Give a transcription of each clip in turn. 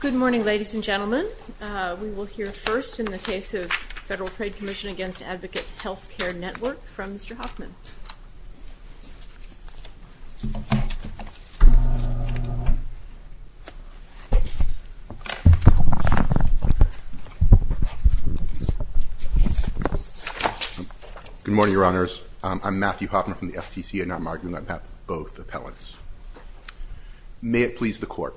Good morning ladies and gentlemen. We will hear first in the case of Federal Trade Commission v. Advocate Health Care Network from Mr. Hoffman. Good morning, Your Honors. I'm Matthew Hoffman from the FTC and I'm arguing that both appellants. May it please the Court.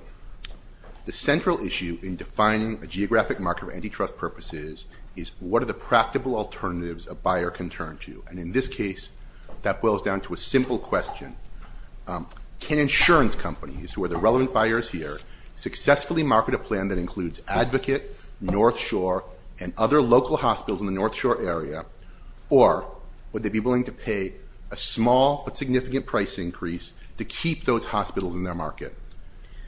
The central issue in defining a geographic market for antitrust purposes is what are the practical alternatives a buyer can turn to. And in this case that boils down to a simple question. Can insurance companies, who are the relevant buyers here, successfully market a plan that includes Advocate, North Shore, and other local hospitals in the price increase to keep those hospitals in their market?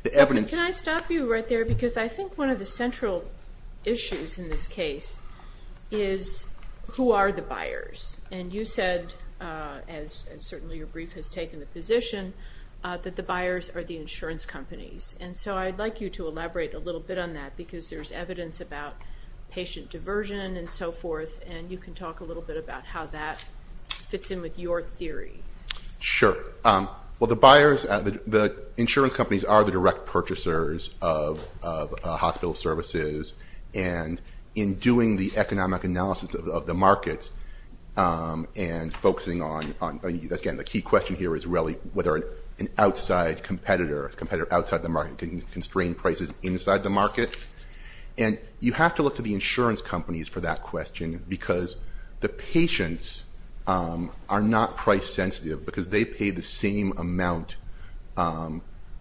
Can I stop you right there? Because I think one of the central issues in this case is who are the buyers? And you said, as certainly your brief has taken the position, that the buyers are the insurance companies. And so I'd like you to elaborate a little bit on that because there's evidence about patient diversion and so forth and you can talk a little bit about how that fits in with your theory. Sure. Well, the buyers, the insurance companies, are the direct purchasers of hospital services. And in doing the economic analysis of the markets and focusing on, again, the key question here is really whether an outside competitor, a competitor outside the market, can constrain prices inside the The patients are not price sensitive because they pay the same amount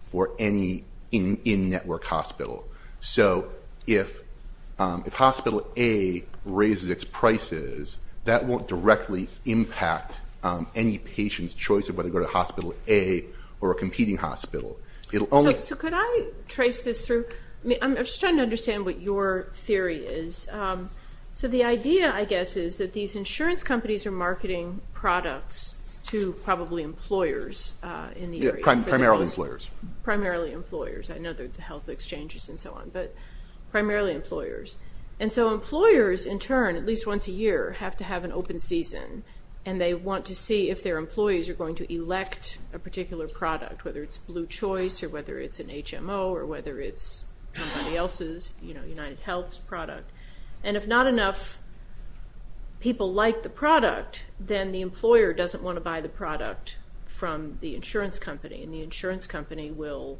for any in-network hospital. So if Hospital A raises its prices, that won't directly impact any patient's choice of whether to go to Hospital A or a competing hospital. So could I trace this through? I'm just trying to These insurance companies are marketing products to probably employers in the area. Primarily employers. Primarily employers. I know there's health exchanges and so on, but primarily employers. And so employers in turn, at least once a year, have to have an open season and they want to see if their employees are going to elect a particular product, whether it's Blue Choice or whether it's People like the product, then the employer doesn't want to buy the product from the insurance company and the insurance company will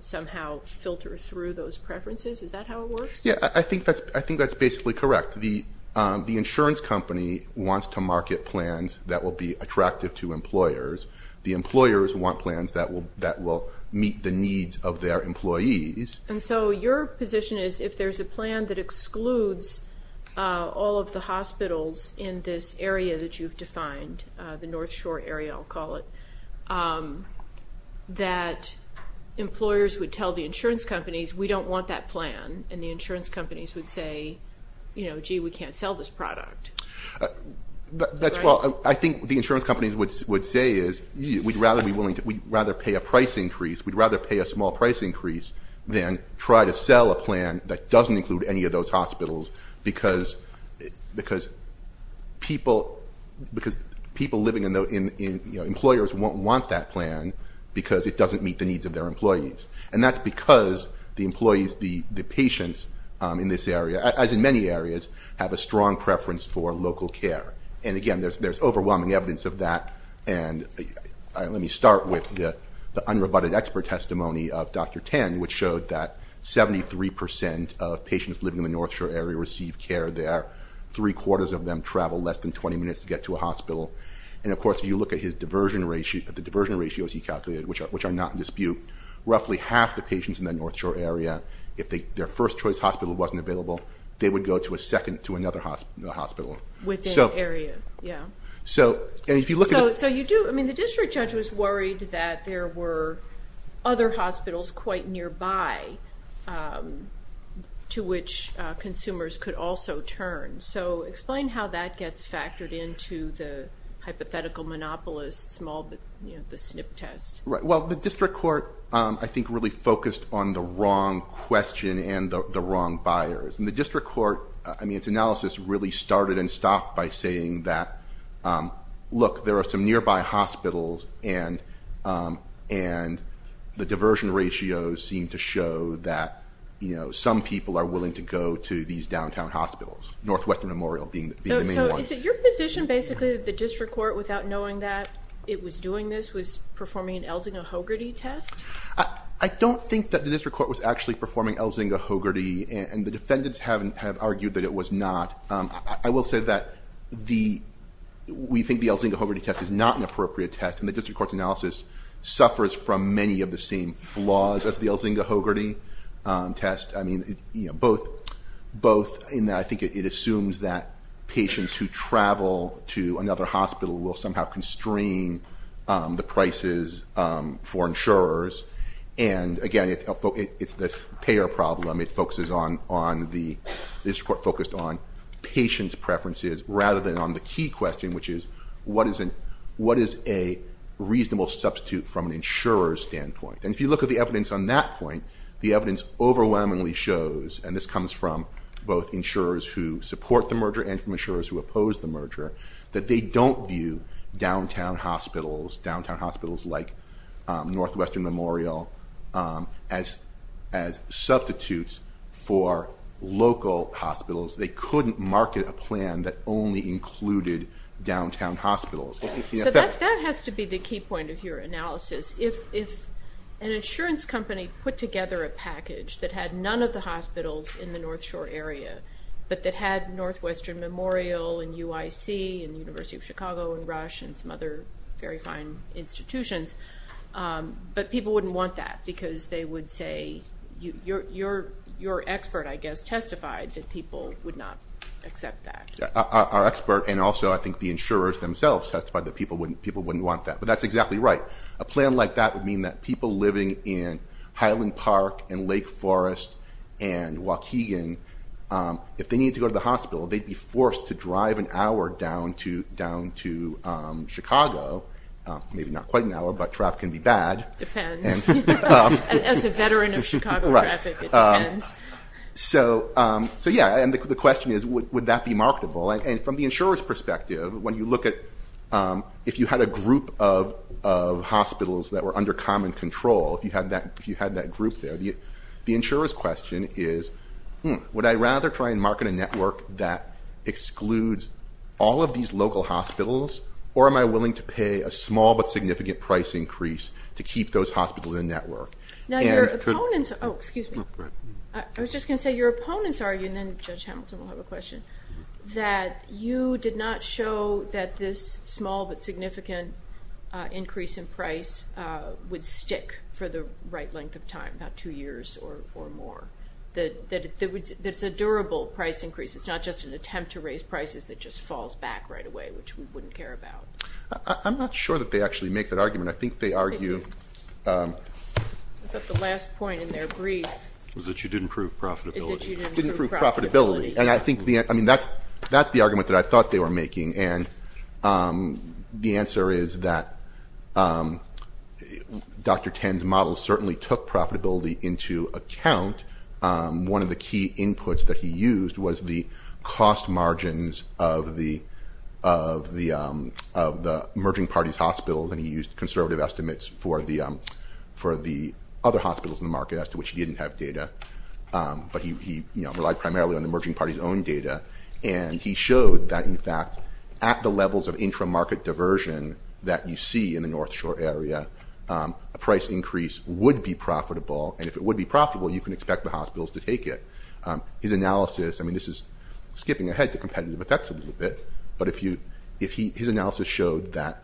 somehow filter through those preferences. Is that how it works? Yeah, I think that's basically correct. The insurance company wants to market plans that will be attractive to employers. The employers want plans that will meet the needs of their employees. And so your position is if there's a plan that excludes all of the hospitals in this area that you've defined, the North Shore area, I'll call it, that employers would tell the insurance companies, we don't want that plan. And the insurance companies would say, gee, we can't sell this product. That's what I think the insurance companies would say is we'd rather pay a price increase. We'd then try to sell a plan that doesn't include any of those hospitals because people living in those, employers won't want that plan because it doesn't meet the needs of their employees. And that's because the employees, the patients in this area, as in many areas, have a strong preference for local care. And again, there's overwhelming evidence of that. And let me start with the unrebutted expert testimony of Dr. Tan, which showed that 73% of patients living in the North Shore area receive care there. Three quarters of them travel less than 20 minutes to get to a hospital. And of course, if you look at the diversion ratios he calculated, which are not in dispute, roughly half the patients in the North Shore area, if their first choice hospital wasn't available, they would go to a second, to another hospital. Within the area, yeah. And if you look at- So you do, I mean, the district judge was worried that there were other hospitals quite nearby to which consumers could also turn. So explain how that gets factored into the hypothetical monopolist, the SNP test. Well, the district court, I think, really focused on the wrong question and the wrong buyers. And I mean, it's analysis really started and stopped by saying that, look, there are some nearby hospitals and the diversion ratios seem to show that some people are willing to go to these downtown hospitals, Northwestern Memorial being the main one. So is it your position, basically, that the district court, without knowing that it was doing this, was performing an Elzinga-Hogarty test? I don't think that the district court was actually performing Elzinga-Hogarty, and the defendants have argued that it was not. I will say that we think the Elzinga-Hogarty test is not an appropriate test, and the district court's analysis suffers from many of the same flaws as the Elzinga-Hogarty test. I mean, both in that I think it assumes that patients who travel to another hospital will somehow constrain the prices for insurers. And again, it's this payer problem. The district court focused on patients' preferences rather than on the key question, which is, what is a reasonable substitute from an insurer's standpoint? And if you look at the evidence on that point, the evidence overwhelmingly shows, and this comes from both insurers who support the merger and from insurers who oppose the merger, that they don't view downtown hospitals, downtown hospitals like Northwestern Memorial, as substitutes for local hospitals. They couldn't market a plan that only included downtown hospitals. So that has to be the key point of your analysis. If an insurance company put together a package that had none of the hospitals in the North Shore area, but that had Northwestern Memorial, and UIC, and the University of Chicago, and Rush, and some other very fine institutions, but people wouldn't want that because they would say, your expert, I guess, testified that people would not accept that. Our expert, and also I think the insurers themselves testified that people wouldn't want that. But that's exactly right. A plan like that would mean that people living in Highland Park, and Lake Forest, and Waukegan, if they needed to go to the hospital, they'd be forced to drive an hour down to Chicago. Maybe not quite an hour, but traffic can be bad. Depends. As a veteran of Chicago traffic, it depends. So yeah, and the question is, would that be marketable? And from the insurer's perspective, when you look at, if you had a group of hospitals that were under common control, if you had that group there, the insurer's question is, would I rather try and market a network that excludes all of these local hospitals, or am I willing to pay a small but significant price increase to keep those hospitals in network? Now your opponents, oh excuse me, I was just going to say, your opponents argue, and then Judge Hamilton will have a question, that you did not show that this small but significant increase in price would stick for the right length of time, about two years or more. That it's a durable price increase. It's not just an attempt to raise prices that just falls back right away, which we wouldn't care about. I'm not sure that they actually make that argument. I think they argue... I thought the last point in their brief... Was that you didn't prove profitability. Is that you didn't prove profitability. And I think, I mean, that's the argument that I thought they were making, and I think the answer is that Dr. Ten's model certainly took profitability into account. One of the key inputs that he used was the cost margins of the merging parties hospitals, and he used conservative estimates for the other hospitals in the market, as to which he didn't have data, but he relied primarily on the merging parties' own data. And he showed that, in fact, at the levels of intramarket diversion that you see in the North Shore area, a price increase would be profitable, and if it would be profitable, you can expect the hospitals to take it. His analysis, I mean, this is skipping ahead to competitive effects a little bit, but his analysis showed that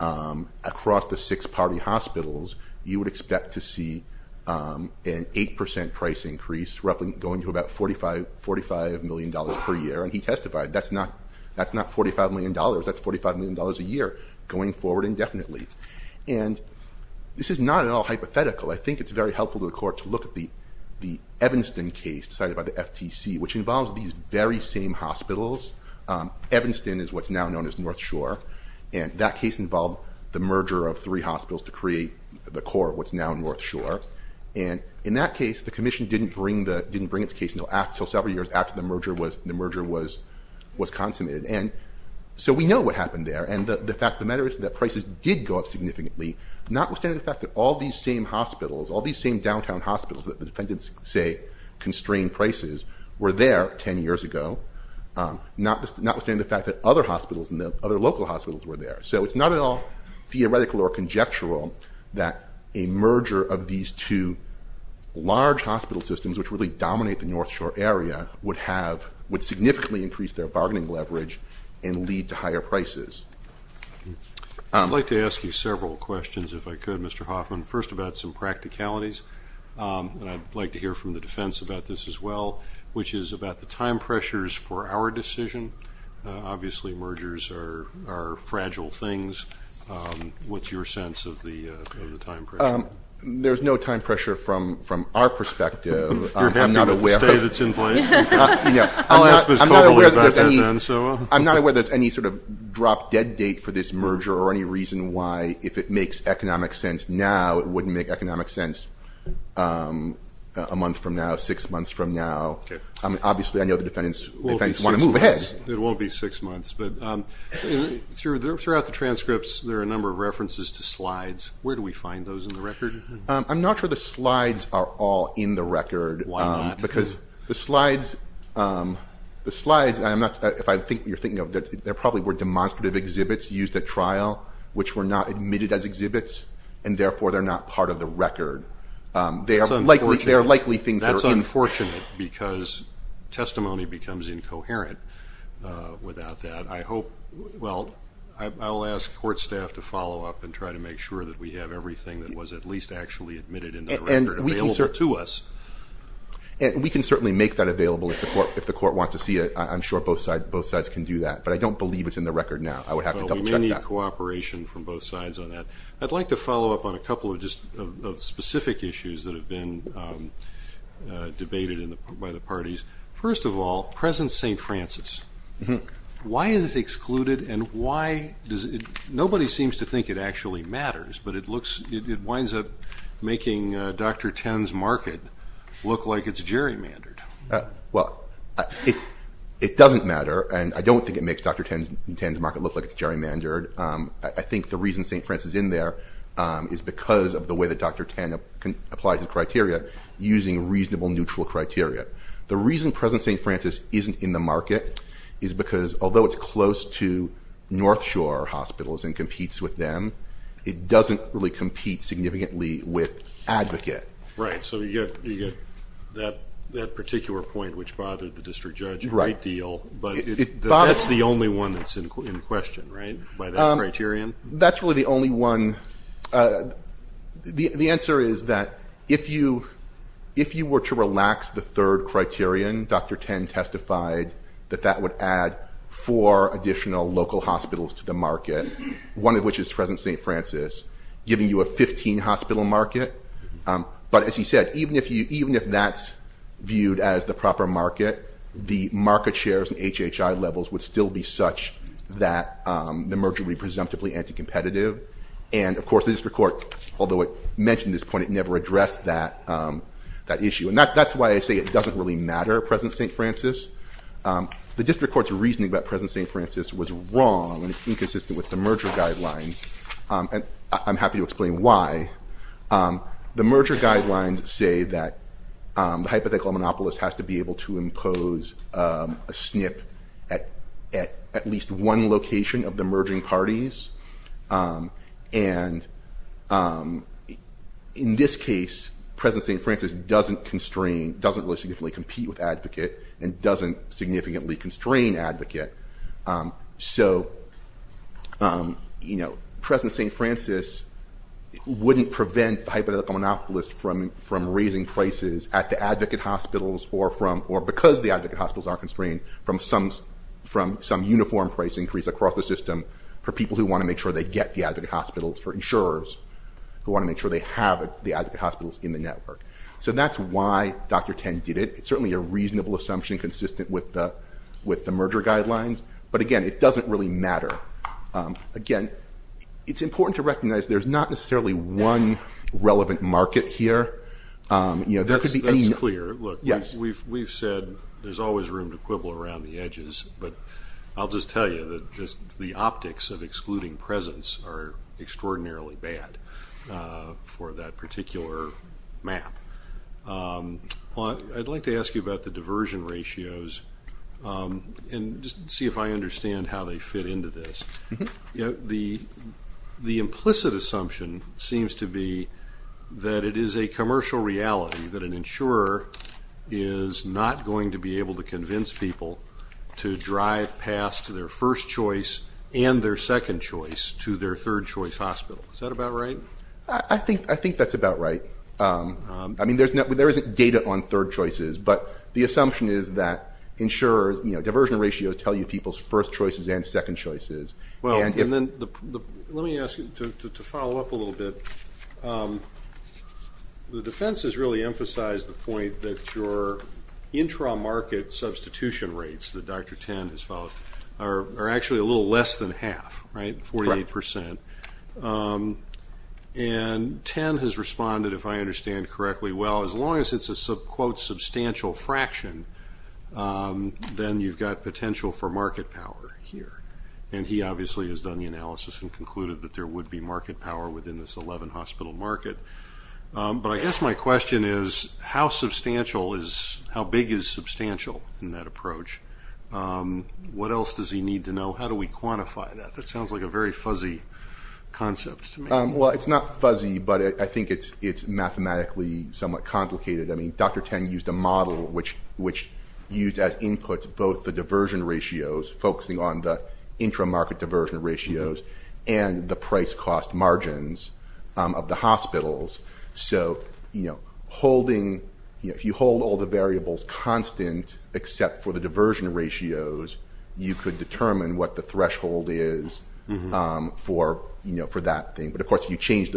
across the six party hospitals, you would expect to see an 8% price increase, roughly going to about $45 million per year, and he testified that's not $45 million, that's $45 million a year going forward indefinitely. And this is not at all hypothetical. I think it's very helpful to the court to look at the Evanston case decided by the FTC, which involves these very same hospitals. Evanston is what's now known as North Shore, and that case involved the merger of three hospitals to create the core of what's now North Shore. And in that case, the commission didn't bring its case until several years after the merger was consummated. And so we know what happened there, and the fact, the matter is that prices did go up significantly, notwithstanding the fact that all these same hospitals, all these same downtown hospitals that the defendants say constrained prices, were there 10 years ago, notwithstanding the fact that other hospitals and the other local hospitals were there. So it's not at all theoretical or conjectural that a merger of these two large hospital systems, which really dominate the North Shore area, would significantly increase their bargaining leverage and lead to higher prices. I'd like to ask you several questions, if I could, Mr. Hoffman. First about some practicalities, and I'd like to hear from the defense about this as well, which is about the time pressures for our decision. Obviously, mergers are fragile things. What's your sense of the time pressure? There's no time pressure from our perspective. You're happy with the state that's in place? I'm not aware that there's any sort of drop dead date for this merger or any reason why, if it makes economic sense now, it wouldn't make economic sense a month from now, six months from now. Obviously, I know the defendants want to move ahead. It won't be six months, but throughout the transcripts, there are a number of references to slides. Where do we find those in the record? I'm not sure the slides are all in the record. Why not? Because the slides, if you're thinking of that, there probably were demonstrative exhibits used at trial, which were not admitted as exhibits, and therefore, they're not part of the record. They are likely things that are in. That's unfortunate because testimony becomes incoherent without that. I'll ask court staff to follow up and try to make sure that we have everything that was at least actually admitted in the record available to us. We can certainly make that available if the court wants to see it. I'm sure both sides can do that, but I don't believe it's in the record now. I would have to double check that. We may need cooperation from both sides on that. I'd like to follow up on a couple of specific issues that have been debated by the parties. First of all, present St. Francis. Why is it excluded? Nobody seems to think it actually matters, but it winds up making Dr. Tan's market look like it's gerrymandered. It doesn't matter, and I don't think it makes Dr. Tan's market look like it's gerrymandered. I think the reason St. Francis is in there is because of the way that Dr. Tan applies the criteria using reasonable, neutral criteria. The reason present St. Francis isn't in the market is because although it's close to North Shore hospitals and competes with them, it doesn't really compete significantly with Advocate. Right, so you get that particular point which bothered the district judge a great deal, but that's the only one that's in question, right, by that criterion? That's really the only one. The answer is that if you were to relax the third criterion, Dr. Tan testified that that would add four additional local hospitals to the market, one of which is present St. Francis, giving you a 15-hospital market. But as he said, even if that's viewed as the proper market, the market shares and HHI levels would still be such that the merger would be presumptively anti-competitive. And of course, the district court, although it mentioned this point, it never addressed that issue. And that's why I say it doesn't really matter, present St. Francis. The district court's reasoning about present St. Francis was wrong and inconsistent with the merger guidelines, and I'm happy to explain why. The merger guidelines say that the hypothetical monopolist has to be able to impose a SNP at at least one location of the merging parties. And in this case, present St. Francis doesn't constrain, doesn't really significantly compete with advocate and doesn't significantly constrain advocate. So present St. Francis wouldn't prevent the hypothetical monopolist from raising prices at the advocate hospitals or from, or because the advocate hospitals aren't constrained, from some uniform price increase across the system for people who want to make sure they get the advocate hospitals, for insurers who want to make sure they have the advocate hospitals in the network. So that's why Dr. Ten did it. It's certainly a reasonable assumption consistent with the merger guidelines. But again, it doesn't really matter. Again, it's important to recognize there's not necessarily one relevant market here. You know, there could be any- That's clear. Look, we've said there's always room to quibble around the edges, but I'll just tell you that just the optics of excluding presence are extraordinarily bad for that particular map. I'd like to ask you about the diversion ratios and just see if I understand how they fit into this. The implicit assumption seems to be that it is a commercial reality that an insurer is not going to be able to convince people to drive past their first choice and their second choice to their third choice hospital. Is that about right? I think that's about right. I mean, there isn't data on third choices, but the assumption is that insurers, you know, diversion ratios tell you people's first choices and second choices. Well, and then let me ask you to follow up a little bit. The defense has really emphasized the point that your intra-market substitution rates that Dr. Ten has followed are actually a little less than half, right? 48%. And Ten has responded, if I understand correctly, well, as long as it's a quote substantial fraction, then you've got potential for market power here. And he obviously has done the analysis and concluded that there would be market power within this 11-hospital market. But I guess my question is, how substantial is, how big is substantial in that approach? What else does he need to know? How do we quantify that? That sounds like a very fuzzy concept to me. Well, it's not fuzzy, but I think it's mathematically somewhat complicated. I mean, Dr. Ten used a model which used as input both the diversion ratios, focusing on the intra-market diversion ratios and the price cost margins of the hospitals. So, you know, if you hold all the variables constant, except for the diversion ratios, you could determine what threshold is for that thing. But of course, if you change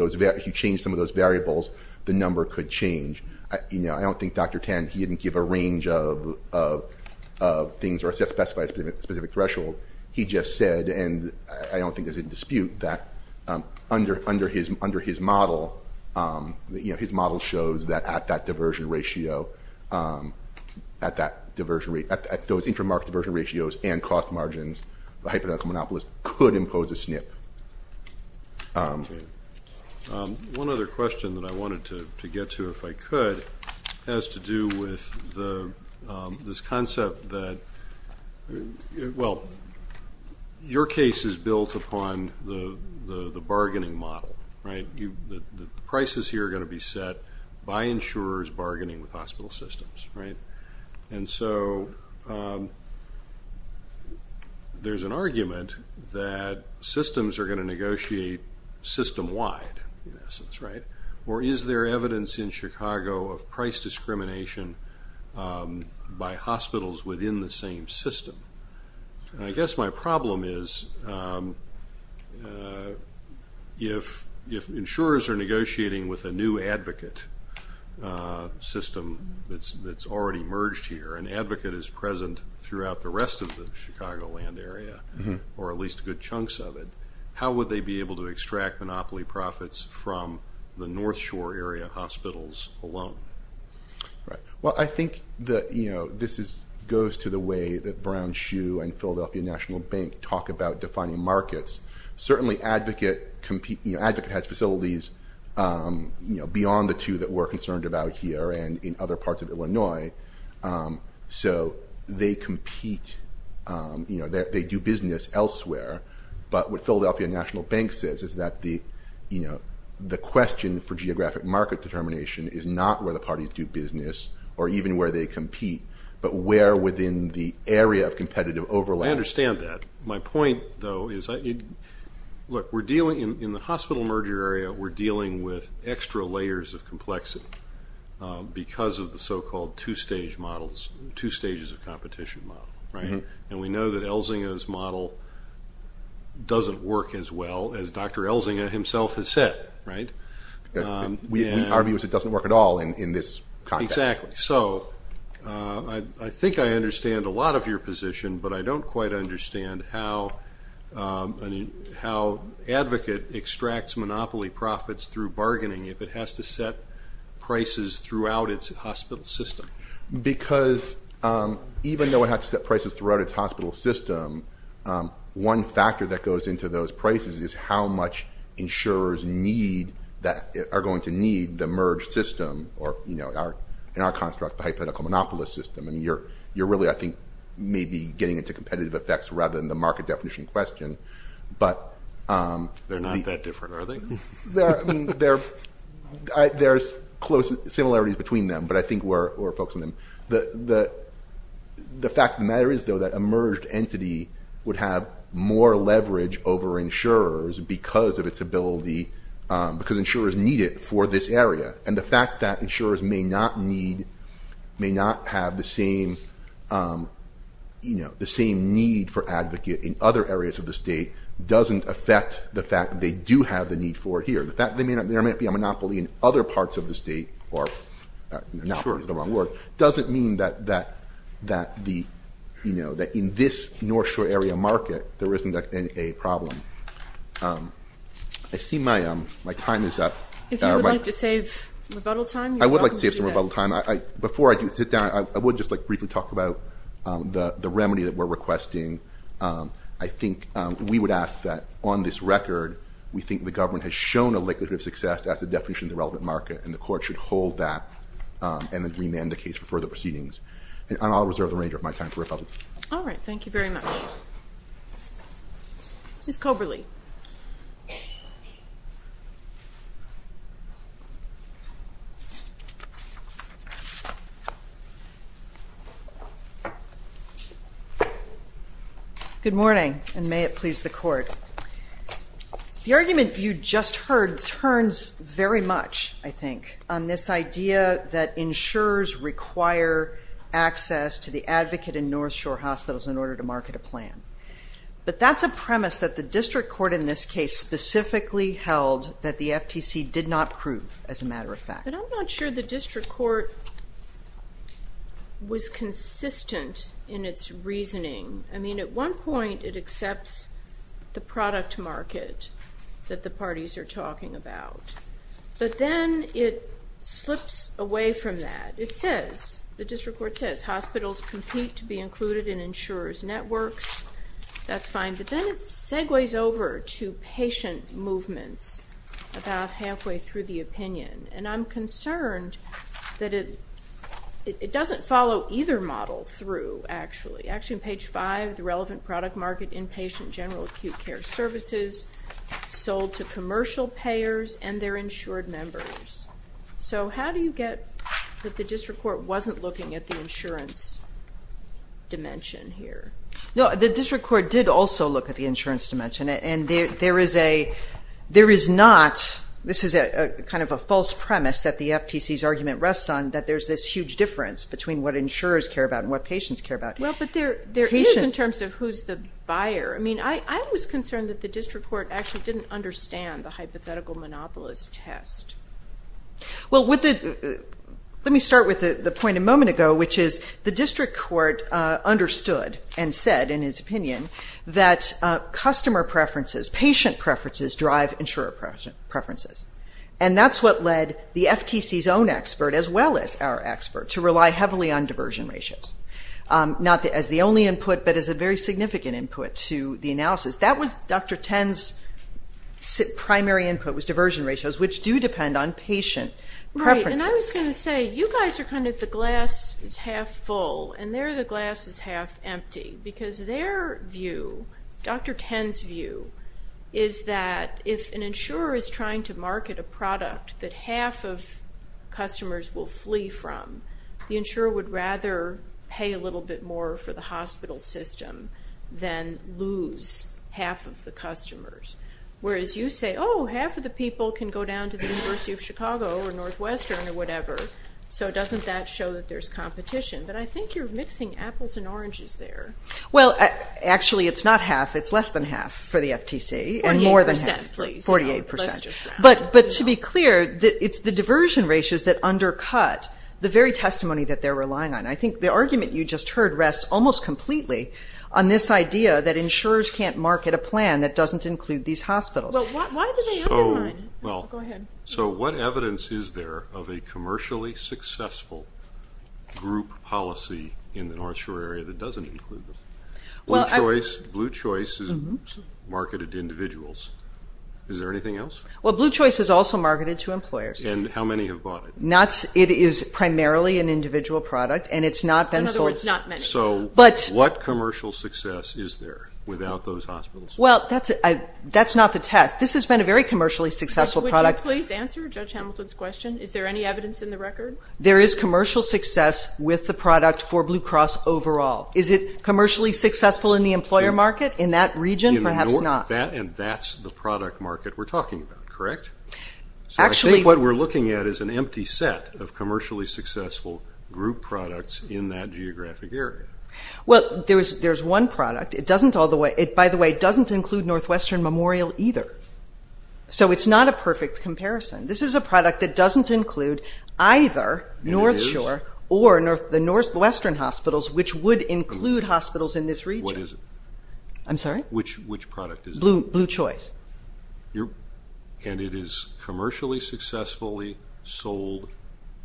some of those variables, the number could change. I don't think Dr. Ten, he didn't give a range of things or specify a specific threshold. He just said, and I don't think there's a dispute that under his model, his model shows that at that diversion ratio, at that diversion rate, at those intra-market diversion ratios and cost margins, the hypothetical monopolist could impose a SNP. One other question that I wanted to get to, if I could, has to do with this concept that, well, your case is built upon the bargaining model, right? The prices here are going to be set by insurers bargaining with hospital systems, right? And so, there's an argument that systems are going to negotiate system-wide, in essence, right? Or is there evidence in Chicago of price discrimination by hospitals within the same system? I guess my question is, if you're negotiating with a new advocate system that's already merged here, an advocate is present throughout the rest of the Chicagoland area, or at least good chunks of it, how would they be able to extract monopoly profits from the North Shore area hospitals alone? Right. Well, I think that this goes to the way that Brown Shoe and Philadelphia National Bank talk about defining markets. Certainly, an advocate has facilities beyond the two that we're concerned about here and in other parts of Illinois. So, they compete, they do business elsewhere. But what Philadelphia National Bank says is that the question for geographic market determination is not where the parties do business or even where they compete, but where within the system. My point, though, is, look, in the hospital merger area, we're dealing with extra layers of complexity because of the so-called two-stage models, two stages of competition model, right? And we know that Elzinga's model doesn't work as well as Dr. Elzinga himself has said, right? We argue that it doesn't work at all in this context. Exactly. So, I think I understand a lot of your position, but I don't quite understand how an advocate extracts monopoly profits through bargaining if it has to set prices throughout its hospital system. Because even though it has to set prices throughout its hospital system, one factor that goes into those prices is how much insurers are going to need the merge system or, in our construct, the hypothetical monopolist system. I mean, you're really, I think, maybe getting into competitive effects rather than the market definition question. They're not that different, are they? There's close similarities between them, but I think we're focusing on them. The fact of the matter is, though, that a merged entity would have more leverage over insurers because of its ability, because insurers need it for this area. And the fact that insurers may not need, may not have the same need for advocate in other areas of the state doesn't affect the fact that they do have the need for it here. The fact that there might be a monopoly in other parts of the state, or monopoly is the wrong word, doesn't mean that the, you know, that in this North Shore area market, there isn't a problem. I see my time is up. If you would like to save rebuttal time, you're welcome to do that. I would like to save some rebuttal time. Before I do sit down, I would just briefly talk about the remedy that we're requesting. I think we would ask that on this record, we think the government has shown a likelihood of success as a definition of the relevant market, and the court should hold that and then remand the case for further proceedings. And I'll reserve the remainder of my time for rebuttal. All right. Thank you very much. Ms. Coberly. Good morning, and may it please the court. The argument you just heard turns very much, I think, on this idea that insurers require access to the advocate in North Shore hospitals in order to market a plan. But that's a premise that the district court in this case specifically held that the FTC did not prove, as a matter of fact. But I'm not sure the district court was consistent in its reasoning. I mean, at one point, it accepts the product market that the parties are talking about. But then it slips away from that. It says, the district court says, hospitals compete to be included in insurer's networks. That's fine. But then it segues over to patient movements about halfway through the opinion. And I'm concerned that it doesn't follow either model through, actually. Actually, on page five, the relevant product market inpatient general acute care services sold to commercial payers and their insured members. So how do you get that the district court wasn't looking at the insurance dimension here? No, the district court did also look at the insurance dimension. And there is not, this is kind of a false premise that the FTC's argument rests on, that there's this huge difference between what insurers care about and what patients care about. Well, but there is in terms of who's the buyer. I mean, I was concerned that the district court actually didn't understand the hypothetical monopolist test. Well, let me start with the point a moment ago, which is the district court understood and said, in his opinion, that customer preferences, patient preferences drive insurer preferences. And that's what led the FTC's own expert, as well as our expert, to rely heavily on diversion ratios. Not as the only input, but as a very significant input to the analysis. That was Dr. Ten's primary input, was diversion ratios, which do depend on patient preferences. Right, and I was going to say, you guys are kind of the glass is half full, and they're the glass is half empty. Because their view, Dr. Ten's view, is that if an insurer is trying to market a product that half of customers will flee from, the insurer would rather pay a little bit more for the hospital system than lose half of the customers. Whereas you say, oh, half of the people can go down to the University of Chicago or Northwestern or whatever. So doesn't that show that there's competition? But I think you're mixing apples and oranges there. Well, actually it's not half, it's less than But to be clear, it's the diversion ratios that undercut the very testimony that they're relying on. I think the argument you just heard rests almost completely on this idea that insurers can't market a plan that doesn't include these hospitals. So what evidence is there of a commercially successful group policy in the North Shore area that doesn't include this? Blue Choice is marketed to individuals. Is there anything else? Well, Blue Choice is also marketed to employers. And how many have bought it? It is primarily an individual product, and it's not been sold. So what commercial success is there without those hospitals? Well, that's not the test. This has been a very commercially successful product. Would you please answer Judge Hamilton's question? Is there any evidence in the record? There is commercial success with the product for Blue Cross overall. Is it commercially successful in the employer market in that region? Perhaps not. And that's the product market we're talking about, correct? So I think what we're looking at is an empty set of commercially successful group products in that geographic area. Well, there's one product. It, by the way, doesn't include Northwestern Memorial either. So it's not a perfect comparison. This is a product that doesn't include either North Shore or the Northwestern hospitals in this region. What is it? I'm sorry? Which product is it? Blue Choice. And it is commercially successfully sold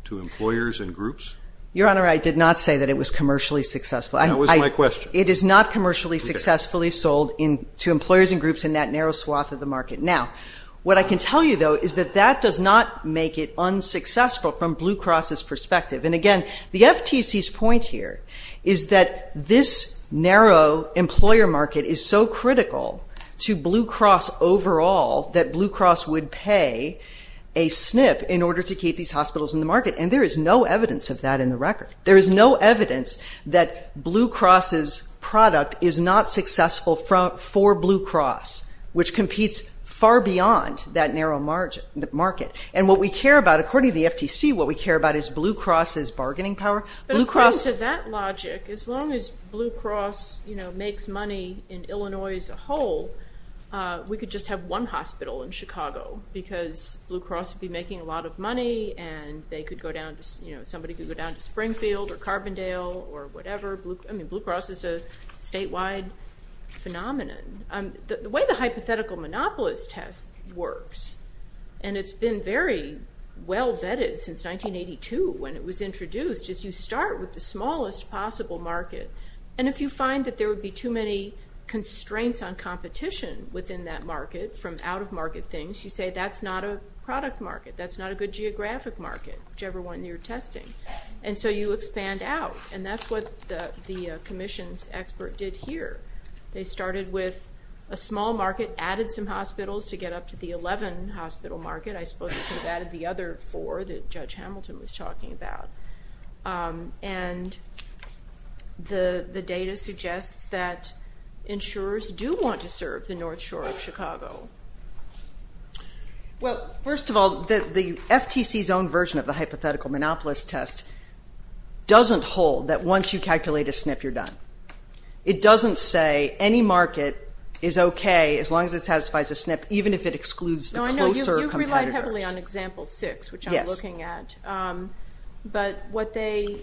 to employers and groups? Your Honor, I did not say that it was commercially successful. That was my question. It is not commercially successfully sold to employers and groups in that narrow swath of the market. Now, what I can tell you, though, is that that does not make it unsuccessful from Blue Cross's perspective. And again, the FTC's point here is that this narrow employer market is so critical to Blue Cross overall that Blue Cross would pay a snip in order to keep these hospitals in the market. And there is no evidence of that in the record. There is no evidence that Blue Cross's product is not successful for Blue Cross, which competes far beyond that narrow market. And what we care about, according to the FTC, what we care about is Blue Cross's bargaining power. But according to that logic, as long as Blue Cross makes money in Illinois as a whole, we could just have one hospital in Chicago because Blue Cross would be making a lot of money and somebody could go down to Springfield or Carbondale or whatever. Blue Cross is a statewide phenomenon. The way the hypothetical monopolist test works, and it's been very well vetted since 1982 when it was introduced, is you start with the smallest possible market. And if you find that there would be too many constraints on competition within that market from out-of-market things, you say that's not a product market. That's not a good geographic market, whichever one you're testing. And so you expand out. And that's what the commission's expert did here. They started with a small market, added some hospitals to get up to the 11-hospital market. I suppose they could have added the other four that Judge Hamilton was talking about. And the data suggests that insurers do want to serve the North Shore of Chicago. Well, first of all, the FTC's own version of the hypothetical monopolist test doesn't hold that once you calculate a SNP, you're done. It doesn't say any market is okay as long as it satisfies a SNP, even if it excludes the closer competitors. You've relied heavily on example six, which I'm looking at. But what they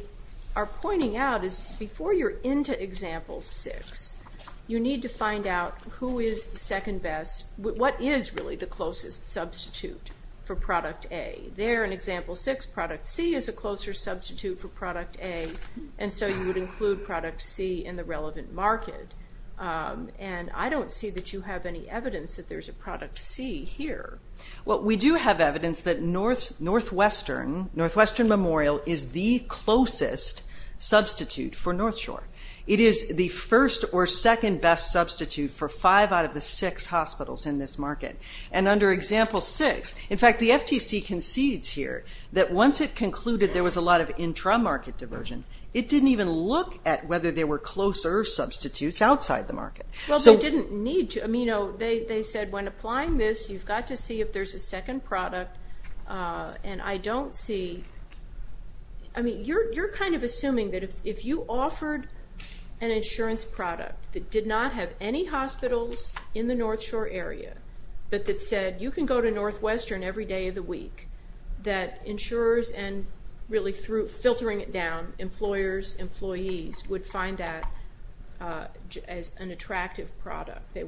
are pointing out is before you're into example six, you need to find out who is the second best. What is really the closest substitute for product A? There in example six, product C is a closer substitute for product A. And so you would include product C in the relevant market. And I don't see that you have any evidence that there's a product C here. Well, we do have evidence that Northwestern Memorial is the closest substitute for North Shore. It is the first or second best substitute for five out of the six hospitals in this market. And under example six, in fact, the FTC concedes here that once it concluded there was a lot of intra-market diversion, it didn't even look at whether there were closer substitutes outside the market. They said when applying this, you've got to see if there's a second product. And I don't see... You're kind of assuming that if you offered an insurance product that did not have any hospitals in the North Shore area, but that said you can go to Northwestern every day of the week, that insurers, and really filtering it down, employers, employees, would find that as an attractive product. They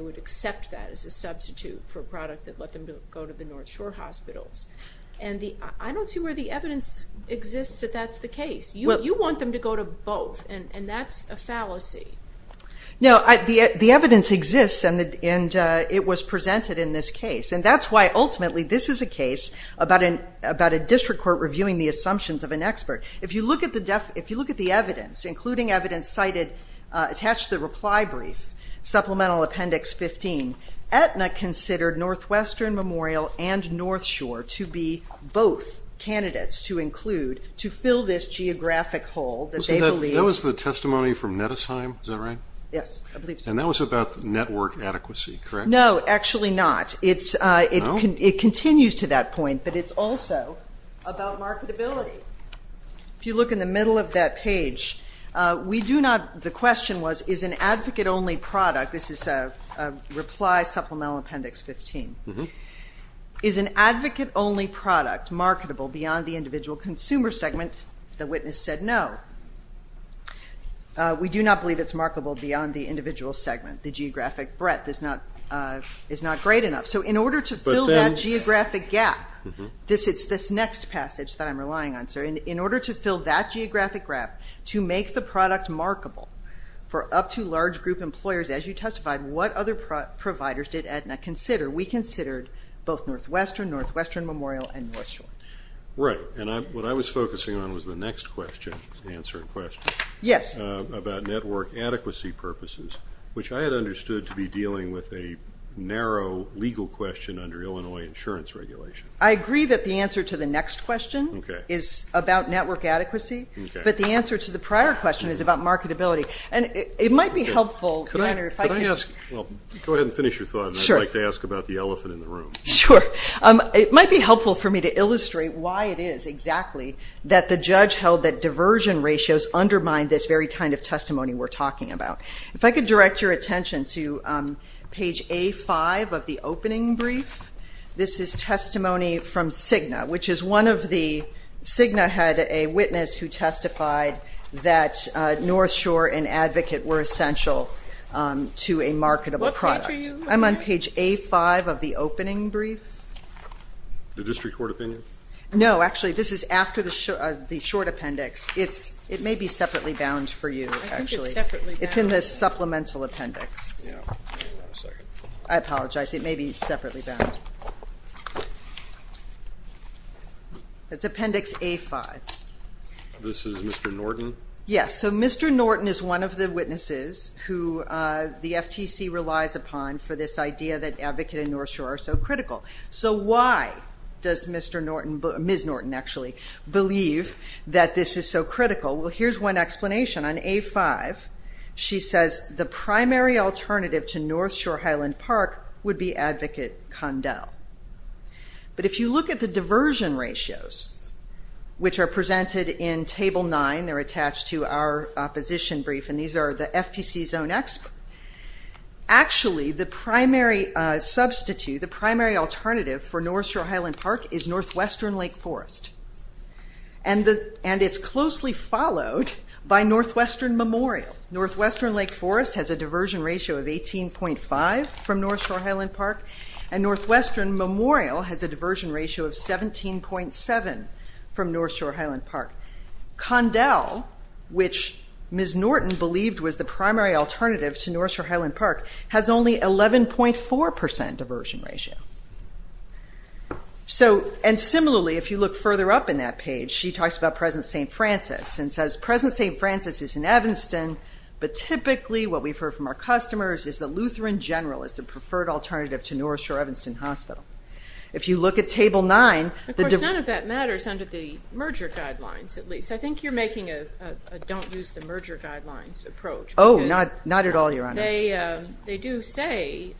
would accept that as a substitute for a product that let them go to the North Shore hospitals. And I don't see where the evidence exists that that's the case. You want them to go to both. And that's a fallacy. The evidence exists, and it was presented in this case. And that's why ultimately this is a case about a district court reviewing the assumptions of an expert. If you look at the evidence, including evidence attached to the reply brief, supplemental appendix 15, Aetna considered Northwestern Memorial and North Shore to be both candidates to include to fill this geographic hole that they believe... And that was about network adequacy, correct? No, actually not. It continues to that point, but it's also about marketability. If you look in the middle of that page, we do not... The question was, is an advocate-only product... This is a reply supplemental appendix 15. Is an advocate-only product marketable beyond the individual consumer segment? The witness said no. We do not believe it's marketable beyond the individual segment. The geographic breadth is not great enough. So in order to fill that geographic gap, this next passage that I'm relying on, in order to fill that geographic gap, to make the product markable for up to large group employers, as you testified, what other providers did Aetna consider? We considered both Northwestern, Northwestern Memorial, and North Shore. Right. And what I was focusing on was the next question, answer in question, about network adequacy purposes, which I had understood to be dealing with a narrow legal question under Illinois insurance regulation. I agree that the answer to the next question is about network adequacy, but the answer to the prior question is about marketability. And it might be helpful... Go ahead and finish your thought, and I'd like to ask about the elephant in the room. Sure. It might be helpful for me to illustrate why it is exactly that the judge held that diversion ratios undermine this very kind of testimony we're talking about. If I could direct your attention to page A5 of the opening brief. This is testimony from Cigna, which is one of the... Cigna had a witness who testified that North Shore and Advocate were essential to a marketable product. I'm on page A5 of the opening brief. The district court opinion? No, actually, this is after the short appendix. It may be separately bound for you, actually. I think it's separately bound. It's in the supplemental appendix. I apologize. It may be separately bound. It's appendix A5. This is Mr. Norton? Yes. So Mr. Norton is one of the witnesses who the FTC relies upon for this idea that Advocate and North Shore are so critical. So why does Ms. Norton actually believe that this is so critical? Well, here's one explanation. On A5, she says the primary alternative to North Shore Highland Park would be Advocate Condell. But if you look at the diversion ratios, which are presented in Table 9, they're attached to our opposition brief and these are the FTC's own experts. Actually, the primary substitute, the primary alternative for North Shore Highland Park is Northwestern Lake Forest. And it's closely followed by Northwestern Memorial. Northwestern Lake Forest has a diversion ratio of 18.5 from North Shore Highland Park and Northwestern Memorial has a diversion ratio of 17.7 from North Shore Highland Park. Condell, which Ms. Norton believed was the primary alternative to North Shore Highland Park, has only 11.4% diversion ratio. And similarly, if you look further up in that page, she talks about present St. Francis and says present St. Francis is in Evanston, but typically what we've heard from our customers is that Lutheran General is the preferred alternative to North Shore Evanston Hospital. If you look at Table 9... Of course, none of that matters under the merger guidelines, at least. I think you're making a don't use the merger guidelines approach. Oh, not at all, Your Honor. They do say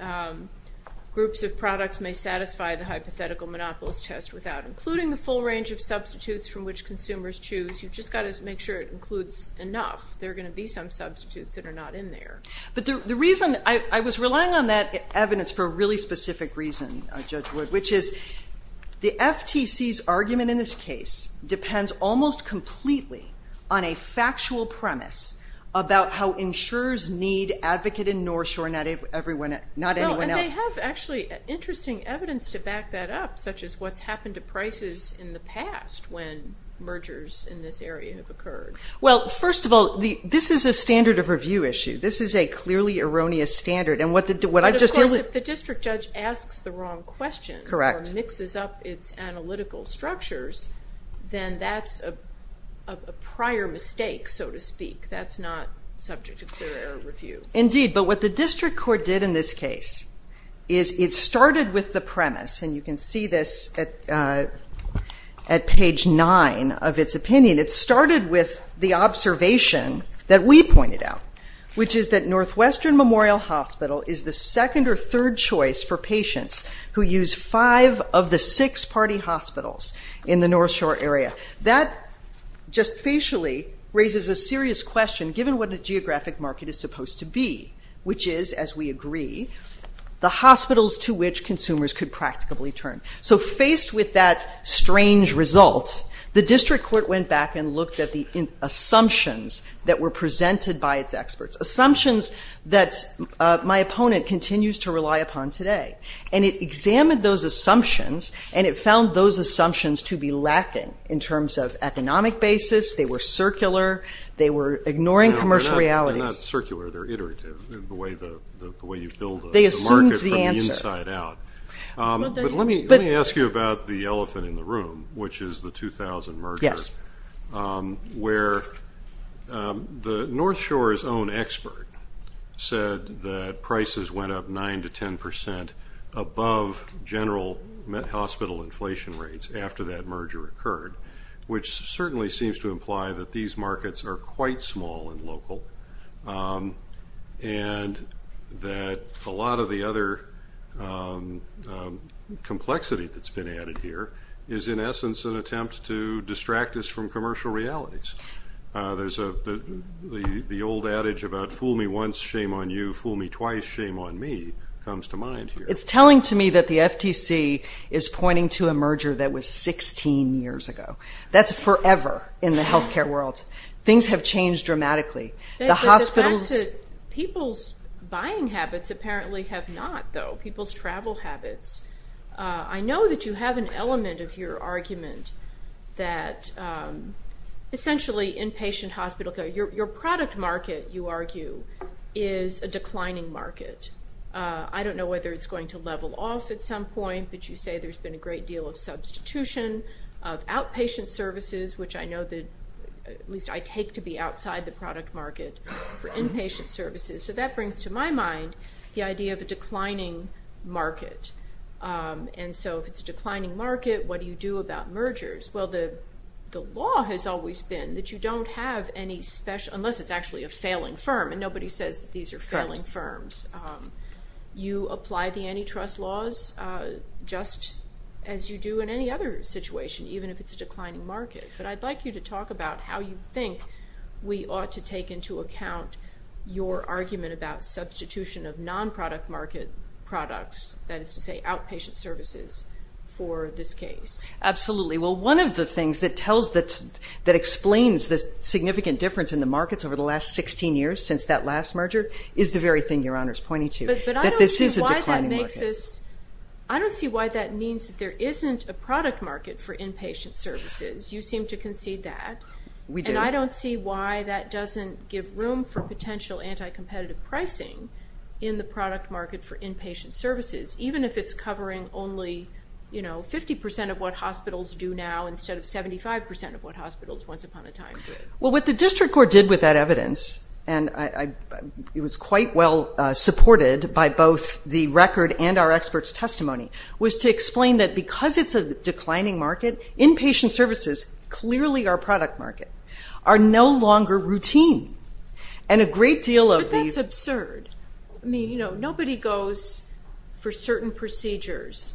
groups of products may satisfy the hypothetical monopolist test without including the full range of substitutes from which consumers choose. You've just got to make sure it includes enough. There are going to be some substitutes that are not in there. But the reason... I was relying on that evidence for a really specific reason, Judge Wood, which is the FTC's argument in this case depends almost completely on a factual premise about how insurers need Advocate in North Shore, not anyone else. And they have actually interesting evidence to back that up, such as what's happened to prices in the past when mergers in this area have occurred. Well, first of all, this is a standard of review issue. This is a clearly erroneous standard. But of course, if the district judge asks the wrong question or mixes up its analytical structures, then that's a prior mistake, so to speak. That's not subject to clear error review. Indeed, but what the district court did in this case is it started with the premise, and you can see this at page 9 of its opinion. It started with the observation that we pointed out, which is that Northwestern Memorial Hospital is the second or third choice for patients who use five of the six party hospitals in the North Shore area. That just facially raises a serious question, given what the geographic market is supposed to be, which is, as we agree, the hospitals to which consumers could practically turn. So faced with that strange result, the district court went back and looked at the assumptions that were presented by its experts, assumptions that my opponent continues to rely upon today. And it examined those assumptions and it found those assumptions to be lacking in terms of circular. They were ignoring commercial realities. They're not circular, they're iterative, the way you build the market from the inside out. But let me ask you about the elephant in the room, which is the 2000 merger, where North Shore's own expert said that prices went up 9 to 10 percent above general hospital inflation rates after that merger occurred, which certainly seems to imply that these markets are quite small and local and that a lot of the other complexity that's been added here is in essence an attempt to distract us from commercial realities. There's the old adage about fool me once, shame on you. Fool me twice, shame on me, comes to mind here. It's telling to me that the FTC is pointing to a merger that was 16 years ago. That's forever in the healthcare world. Things have changed dramatically. The hospitals... People's buying habits apparently have not, though. People's travel habits. I know that you have an element of your argument that essentially inpatient hospital care, your product market, you argue, is a declining market. I don't know whether it's going to level off at some point, but you say there's been a great deal of substitution of outpatient services, which I know that at least I take to be outside the product market for inpatient services. That brings to my mind the idea of a declining market. If it's a declining market, what do you do about mergers? The law has always been that you don't have any special, unless it's actually a failing firm, and nobody says that these are failing firms. You apply the antitrust laws just as you do in any other situation, even if it's a declining market. But I'd like you to talk about how you think we ought to take into account your argument about substitution of non-product market products, that is to say outpatient services, for this case. Absolutely. Well, one of the things that explains the significant difference in the markets over the last 16 years, since that last merger, is the very thing Your Honor is pointing to. That this is a declining market. But I don't see why that means that there isn't a product market for inpatient services. You seem to concede that. We do. And I don't see why that doesn't give room for potential anti-competitive pricing in the product market for inpatient services, even if it's covering only 50% of what hospitals do now instead of 75% of what hospitals once upon a time did. Well, what the District Court did with that evidence, and it was quite well supported by both the record and our experts' testimony, was to explain that because it's a declining market, inpatient services, clearly our product market, are no longer routine. But that's absurd. Nobody goes for certain procedures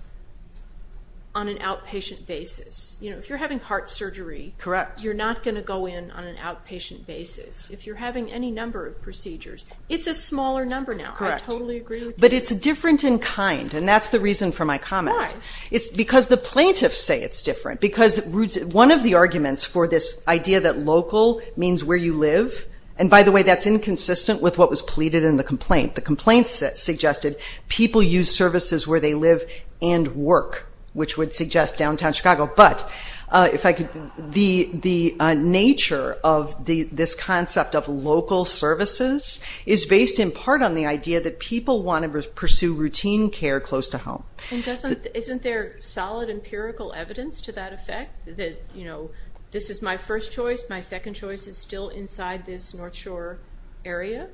on an outpatient basis. If you're having heart surgery, you're not going to go in on an outpatient basis. If you're having any number of procedures, it's a smaller number now. I totally agree with you. But it's different in kind, and that's the reason for my comment. Why? Because the plaintiffs say it's different. Because one of the arguments for this idea that local means where you live, and by the way, that's inconsistent with what was pleaded in the complaint. The complaint suggested people use services where they live and work, which would suggest downtown Chicago. But the nature of this concept of local services is based in part on the idea that people want to pursue routine care close to home. And isn't there solid empirical evidence to that effect? That this is my first choice, my second choice is still inside this North Shore area?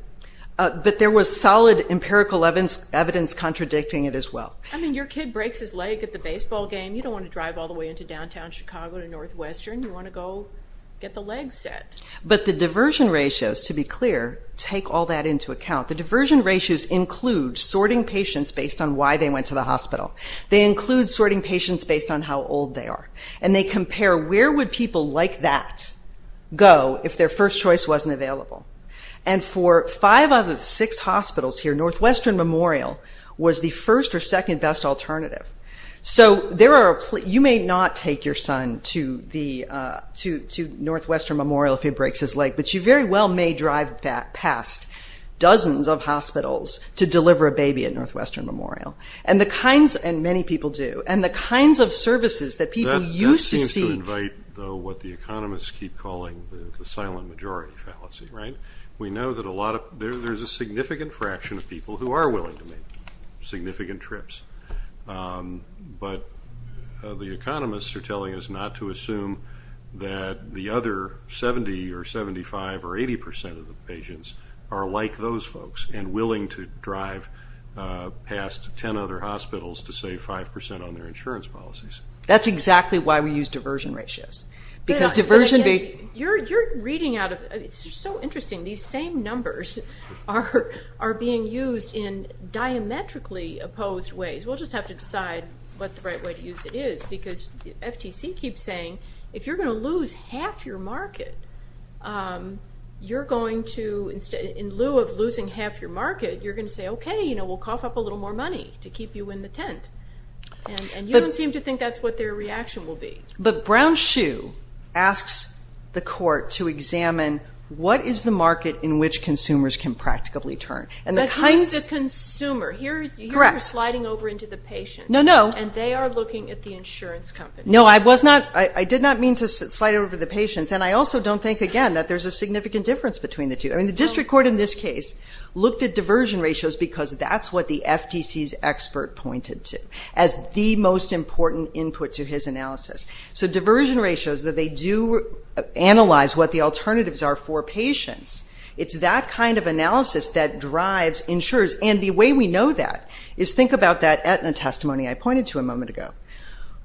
But there was solid empirical evidence contradicting it as well. I mean, your kid breaks his leg at the baseball game, you don't want to drive all the way into downtown Chicago to Northwestern, you want to go get the legs set. But the diversion ratios, to be clear, take all that into account. The diversion ratios include sorting patients based on why they went to the hospital. They include sorting patients based on how old they are. And they compare where would people like that go if their first choice wasn't available. And for five out of the six hospitals here, Northwestern Memorial was the first or second best alternative. So there are, you may not take your son to Northwestern Memorial if he breaks his leg, but you very well may drive past dozens of hospitals to deliver a baby at Northwestern Memorial. And the kinds, and many people do, and the kinds of services that people used to see. That seems to invite what the economists keep calling the silent majority fallacy, right? We know that a lot of, there's a significant fraction of people who are willing to make significant trips. But the economists are telling us not to assume that the other 70 or 75 or 80 percent of the patients are like those folks and willing to drive past 10 other hospitals to save 5 percent on their insurance policies. That's exactly why we use diversion ratios. Because diversion... You're reading out of, it's just so interesting. These same numbers are being used in diametrically opposed ways. We'll just have to decide what the right way to use it is. Because the FTC keeps saying, if you're going to lose half your market, you're going to, in lieu of losing half your market, you're going to say, okay, we'll cough up a little more money to keep you in the tent. And you don't seem to think that's what their reaction will be. But Brown-Shue asks the court to examine, what is the market in which consumers can practically turn? But who's the consumer? Here you're sliding over into the patients. And they are looking at the insurance companies. I did not mean to slide over the patients. And I also don't think, again, that there's a significant difference between the two. The district court in this case looked at diversion ratios because that's what the FTC's expert pointed to as the most important input to his analysis. So diversion ratios, that they do analyze what the alternatives are for patients, it's that kind of analysis that drives insurers. And the way we know that is, think about that Aetna testimony I pointed to a moment ago.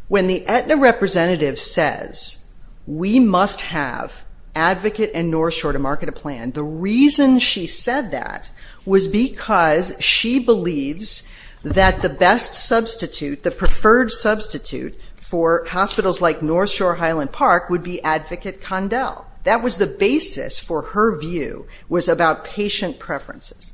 When the Aetna representative says, we must have Advocate and North Shore to market a plan, the reason she said that was because she believes that the best substitute, the preferred substitute for hospitals like North Shore Highland Park would be Advocate Condell. That was the basis for her view, was about patient preferences.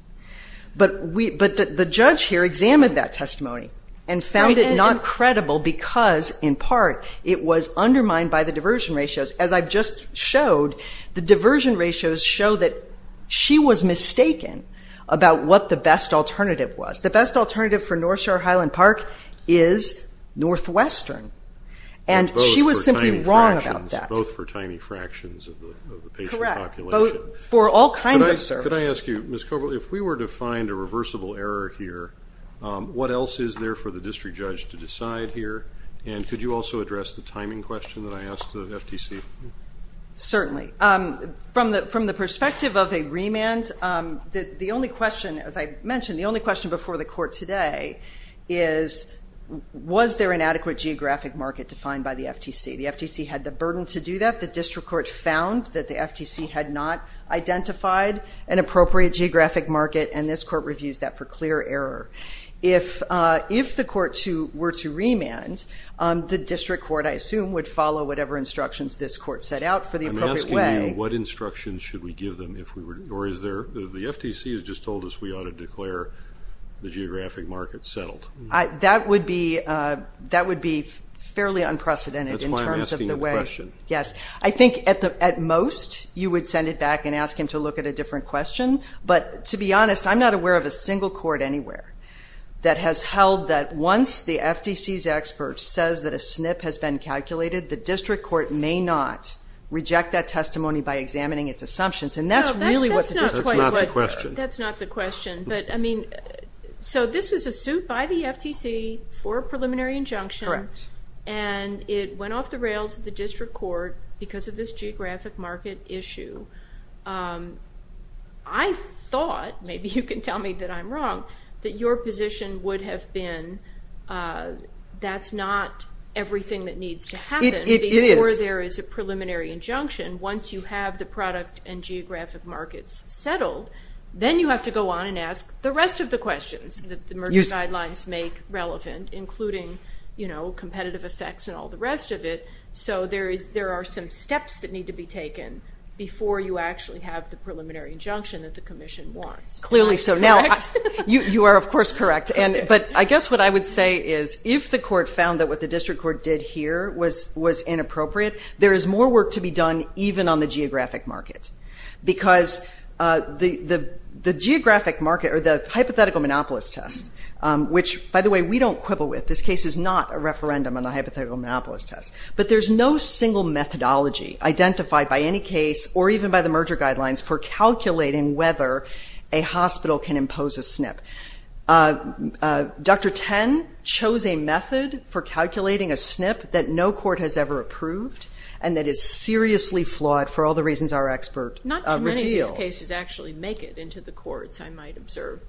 But the judge here examined that testimony and found it not credible because, in part, it was undermined by the diversion ratios. As I just showed, the diversion ratios show that she was mistaken about what the best alternative was. The best alternative for North Shore Highland Park is Northwestern. And she was simply wrong about that. Both for tiny fractions of the patient population. Correct. For all kinds of services. Could I ask you, Ms. Coble, if we were to find a reversible error here, what else is there for the district judge to decide here? And could you also address the timing question that I asked the FTC? Certainly. From the perspective of a remand, the only question, as I mentioned, the only question before the court today is, was there an adequate geographic market defined by the FTC? The FTC had the burden to do that. The district court found that the FTC had not identified an appropriate geographic market and this court reviews that for clear error. If the court were to remand, the district court, I assume, would follow whatever instructions this court set out for the appropriate way. I'm asking you, what instructions should we give them if we were, or is there, the FTC has just told us we ought to declare the geographic market settled. That would be fairly unprecedented. That's why I'm asking a question. At most, you would send it back and ask him to look at a different question, but to be honest, I'm not aware of a single court anywhere that has held that once the FTC's expert says that a SNP has been calculated, the district court may not reject that testimony by examining its assumptions. That's not the question. So this was a suit by the FTC for a preliminary injunction, and it went off the rails at the district court because of this geographic market issue. I thought, maybe you can tell me that I'm wrong, that your position would have been that's not everything that needs to happen before there is a preliminary injunction. Once you have the product and geographic markets settled, then you have to go on and ask the rest of the questions that the merger guidelines make relevant, including competitive effects and all the rest of it. So there are some steps that need to be taken before you actually have the preliminary injunction that the commission wants. You are, of course, correct. But I guess what I would say is if the court found that what the district court did here was inappropriate, there is more work to be done even on the geographic market. Because the hypothetical monopolist test, which, by the way, we don't quibble with. This case is not a referendum on the hypothetical monopolist test. But there's no single methodology identified by any case or even by the merger guidelines for calculating whether a hospital can impose a SNP. Dr. Ten chose a method for calculating a SNP that no court has ever approved and that is seriously flawed for all the reasons our expert revealed. These cases actually make it into the courts, I might observe.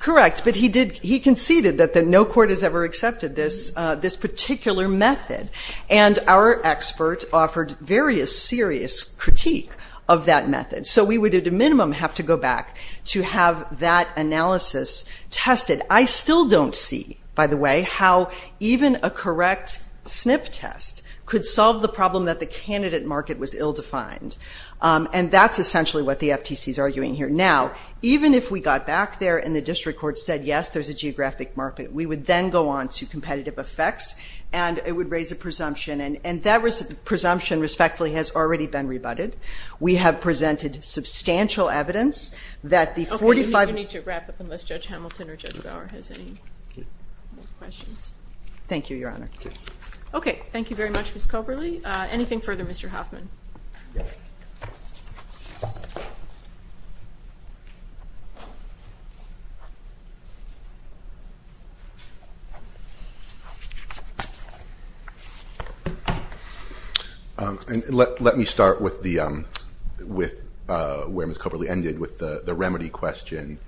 Correct. But he conceded that no court has ever accepted this particular method. And our expert offered various serious critique of that method. So we would, at a minimum, have to go back to have that analysis tested. I still don't see, by the way, how even a correct SNP test could solve the problem that the candidate market was ill-defined. And that's essentially what the FTC is arguing here. Now, even if we got back there and the district court said, yes, there's a geographic market, we would then go on to competitive effects and it would raise a presumption. And that presumption, respectfully, has already been rebutted. We have presented substantial evidence that the 45... Okay, you need to wrap up unless Judge Hamilton or Judge Bauer has any more questions. Thank you, Your Honor. Okay, thank you very much, Ms. Coberly. Anything further, Mr. Hoffman? Let me start with where Ms. Coberly ended with the remedy question.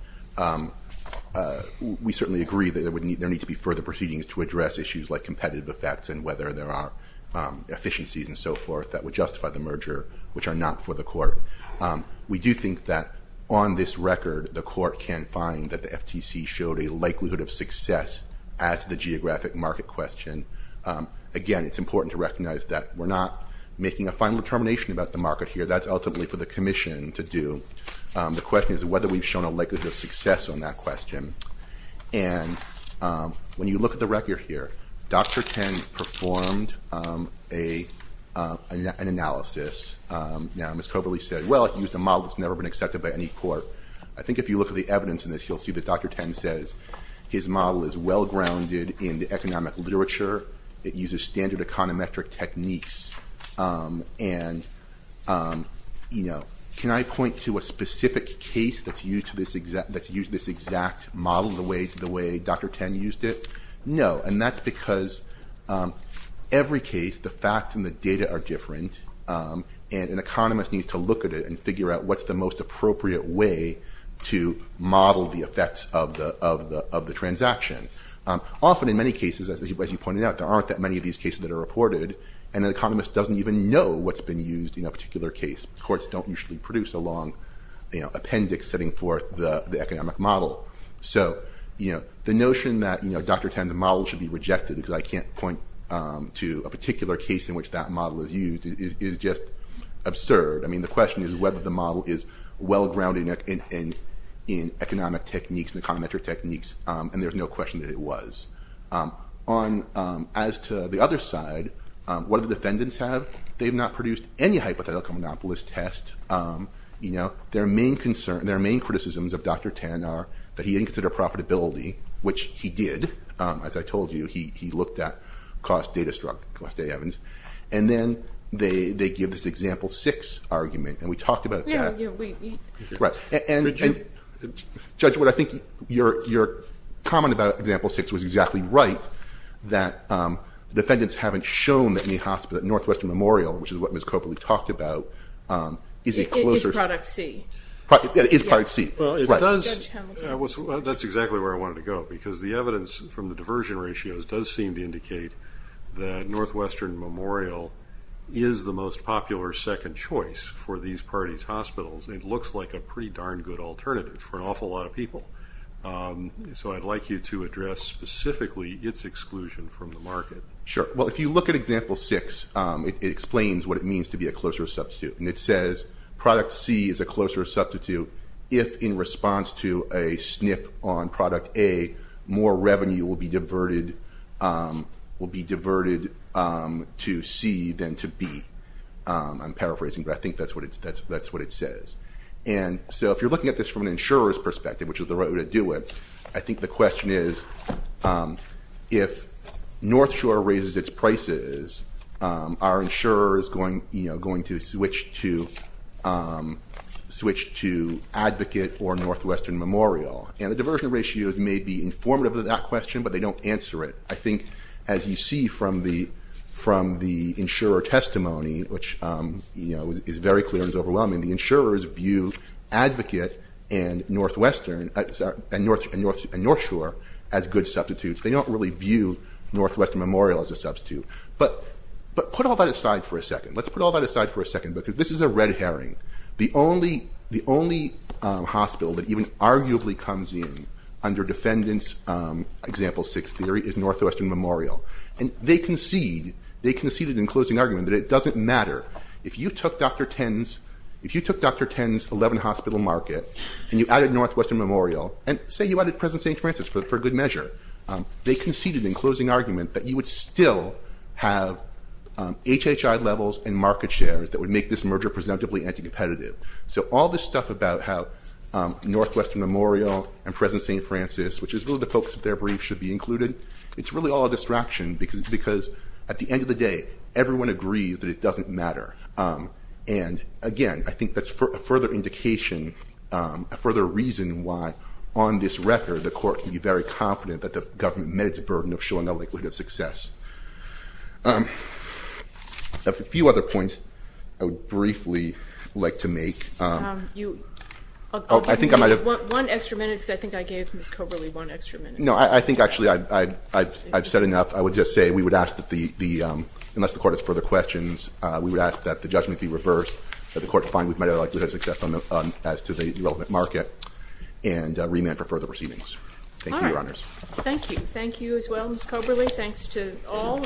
We certainly agree that there need to be further proceedings to address issues like competitive effects and whether there are efficiencies and so forth that would justify the merger, which are not for the Court. We do think that on this record the Court can find that the FTC showed a likelihood of success at the geographic market question. Again, it's important to recognize that we're not making a final determination about the market here. That's ultimately for the Commission to do. The question is whether we've shown a likelihood of success on that question. And when you look at the evidence, you'll see that Dr. Ten performed an analysis. Now, Ms. Coberly said, well, it used a model that's never been accepted by any Court. I think if you look at the evidence in this, you'll see that Dr. Ten says his model is well-grounded in the economic literature. It uses standard econometric techniques. Can I point to a specific case that's used this exact model the way Dr. Ten used it? No. And that's because every case, the facts and the data are different, and an economist needs to look at it and figure out what's the most appropriate way to model the effects of the transaction. Often in many cases, as you pointed out, there aren't that many of these cases that are reported, and an economist doesn't even know what's been used in a particular case. Courts don't usually produce a long appendix setting forth the economic model. So, the notion that Dr. Ten's model should be rejected because I can't point to a particular case in which that model is used is just absurd. I mean, the question is whether the model is well-grounded in economic techniques and econometric techniques, and there's no question that it was. As to the other side, what do the defendants have? They've not produced any hypothetical monopolist test. Their main concern, their main criticisms of Dr. Ten are that he didn't consider profitability, which he did. As I told you, he looked at cost data struck, cost data evidence. And then they give this example 6 argument, and we talked about that. Judge Wood, I think your comment about example 6 was exactly right, that defendants haven't shown that Northwestern Memorial, which is what Ms. Copley talked about, is a closer... It is product C. That's exactly where I wanted to go, because the evidence from the diversion ratios does seem to indicate that Northwestern Memorial is the most popular second choice for these parties' hospitals. It looks like a pretty darn good alternative for an awful lot of people. So, I'd like you to address specifically its exclusion from the market. Sure. Well, if you look at example 6, it explains what it means to be a closer substitute. And it says product C is a closer substitute if, in response to a snip on product A, more revenue will be diverted to C than to B. I'm paraphrasing, but I think that's what it says. And so, if you're looking at this from an insurer's perspective, which is the right way to do it, I think the question is if North Shore raises its prices, are insurers going to switch to Advocate or Northwestern Memorial? And the diversion ratios may be informative of that question, but they don't answer it. I think, as you see from the insurer testimony, which is very clear and is overwhelming, the insurers view Advocate and North Shore as a substitute. But put all that aside for a second. Because this is a red herring. The only hospital that even arguably comes in under Defendant's example 6 theory is Northwestern Memorial. And they concede in closing argument that it doesn't matter if you took Dr. Ten's 11 hospital market and you added Northwestern Memorial and, say, you added President St. Francis for good measure. They conceded in closing argument that you would still have HHI levels and market shares that would make this merger presumptively anti-competitive. So all this stuff about how Northwestern Memorial and President St. Francis, which is really the focus of their brief, should be included, it's really all a distraction because, at the end of the day, everyone agrees that it doesn't matter. And, again, I think that's a further indication, a further reason why, on this case, that the government met its burden of showing a likelihood of success. A few other points I would briefly like to make. One extra minute because I think I gave Ms. Coberly one extra minute. No, I think, actually, I've said enough. I would just say we would ask that the unless the Court has further questions, we would ask that the judgment be reversed, that the Court find we've met our likelihood of success as to the relevant market, and thank you. Thank you as well, Ms. Coberly. Thanks to all.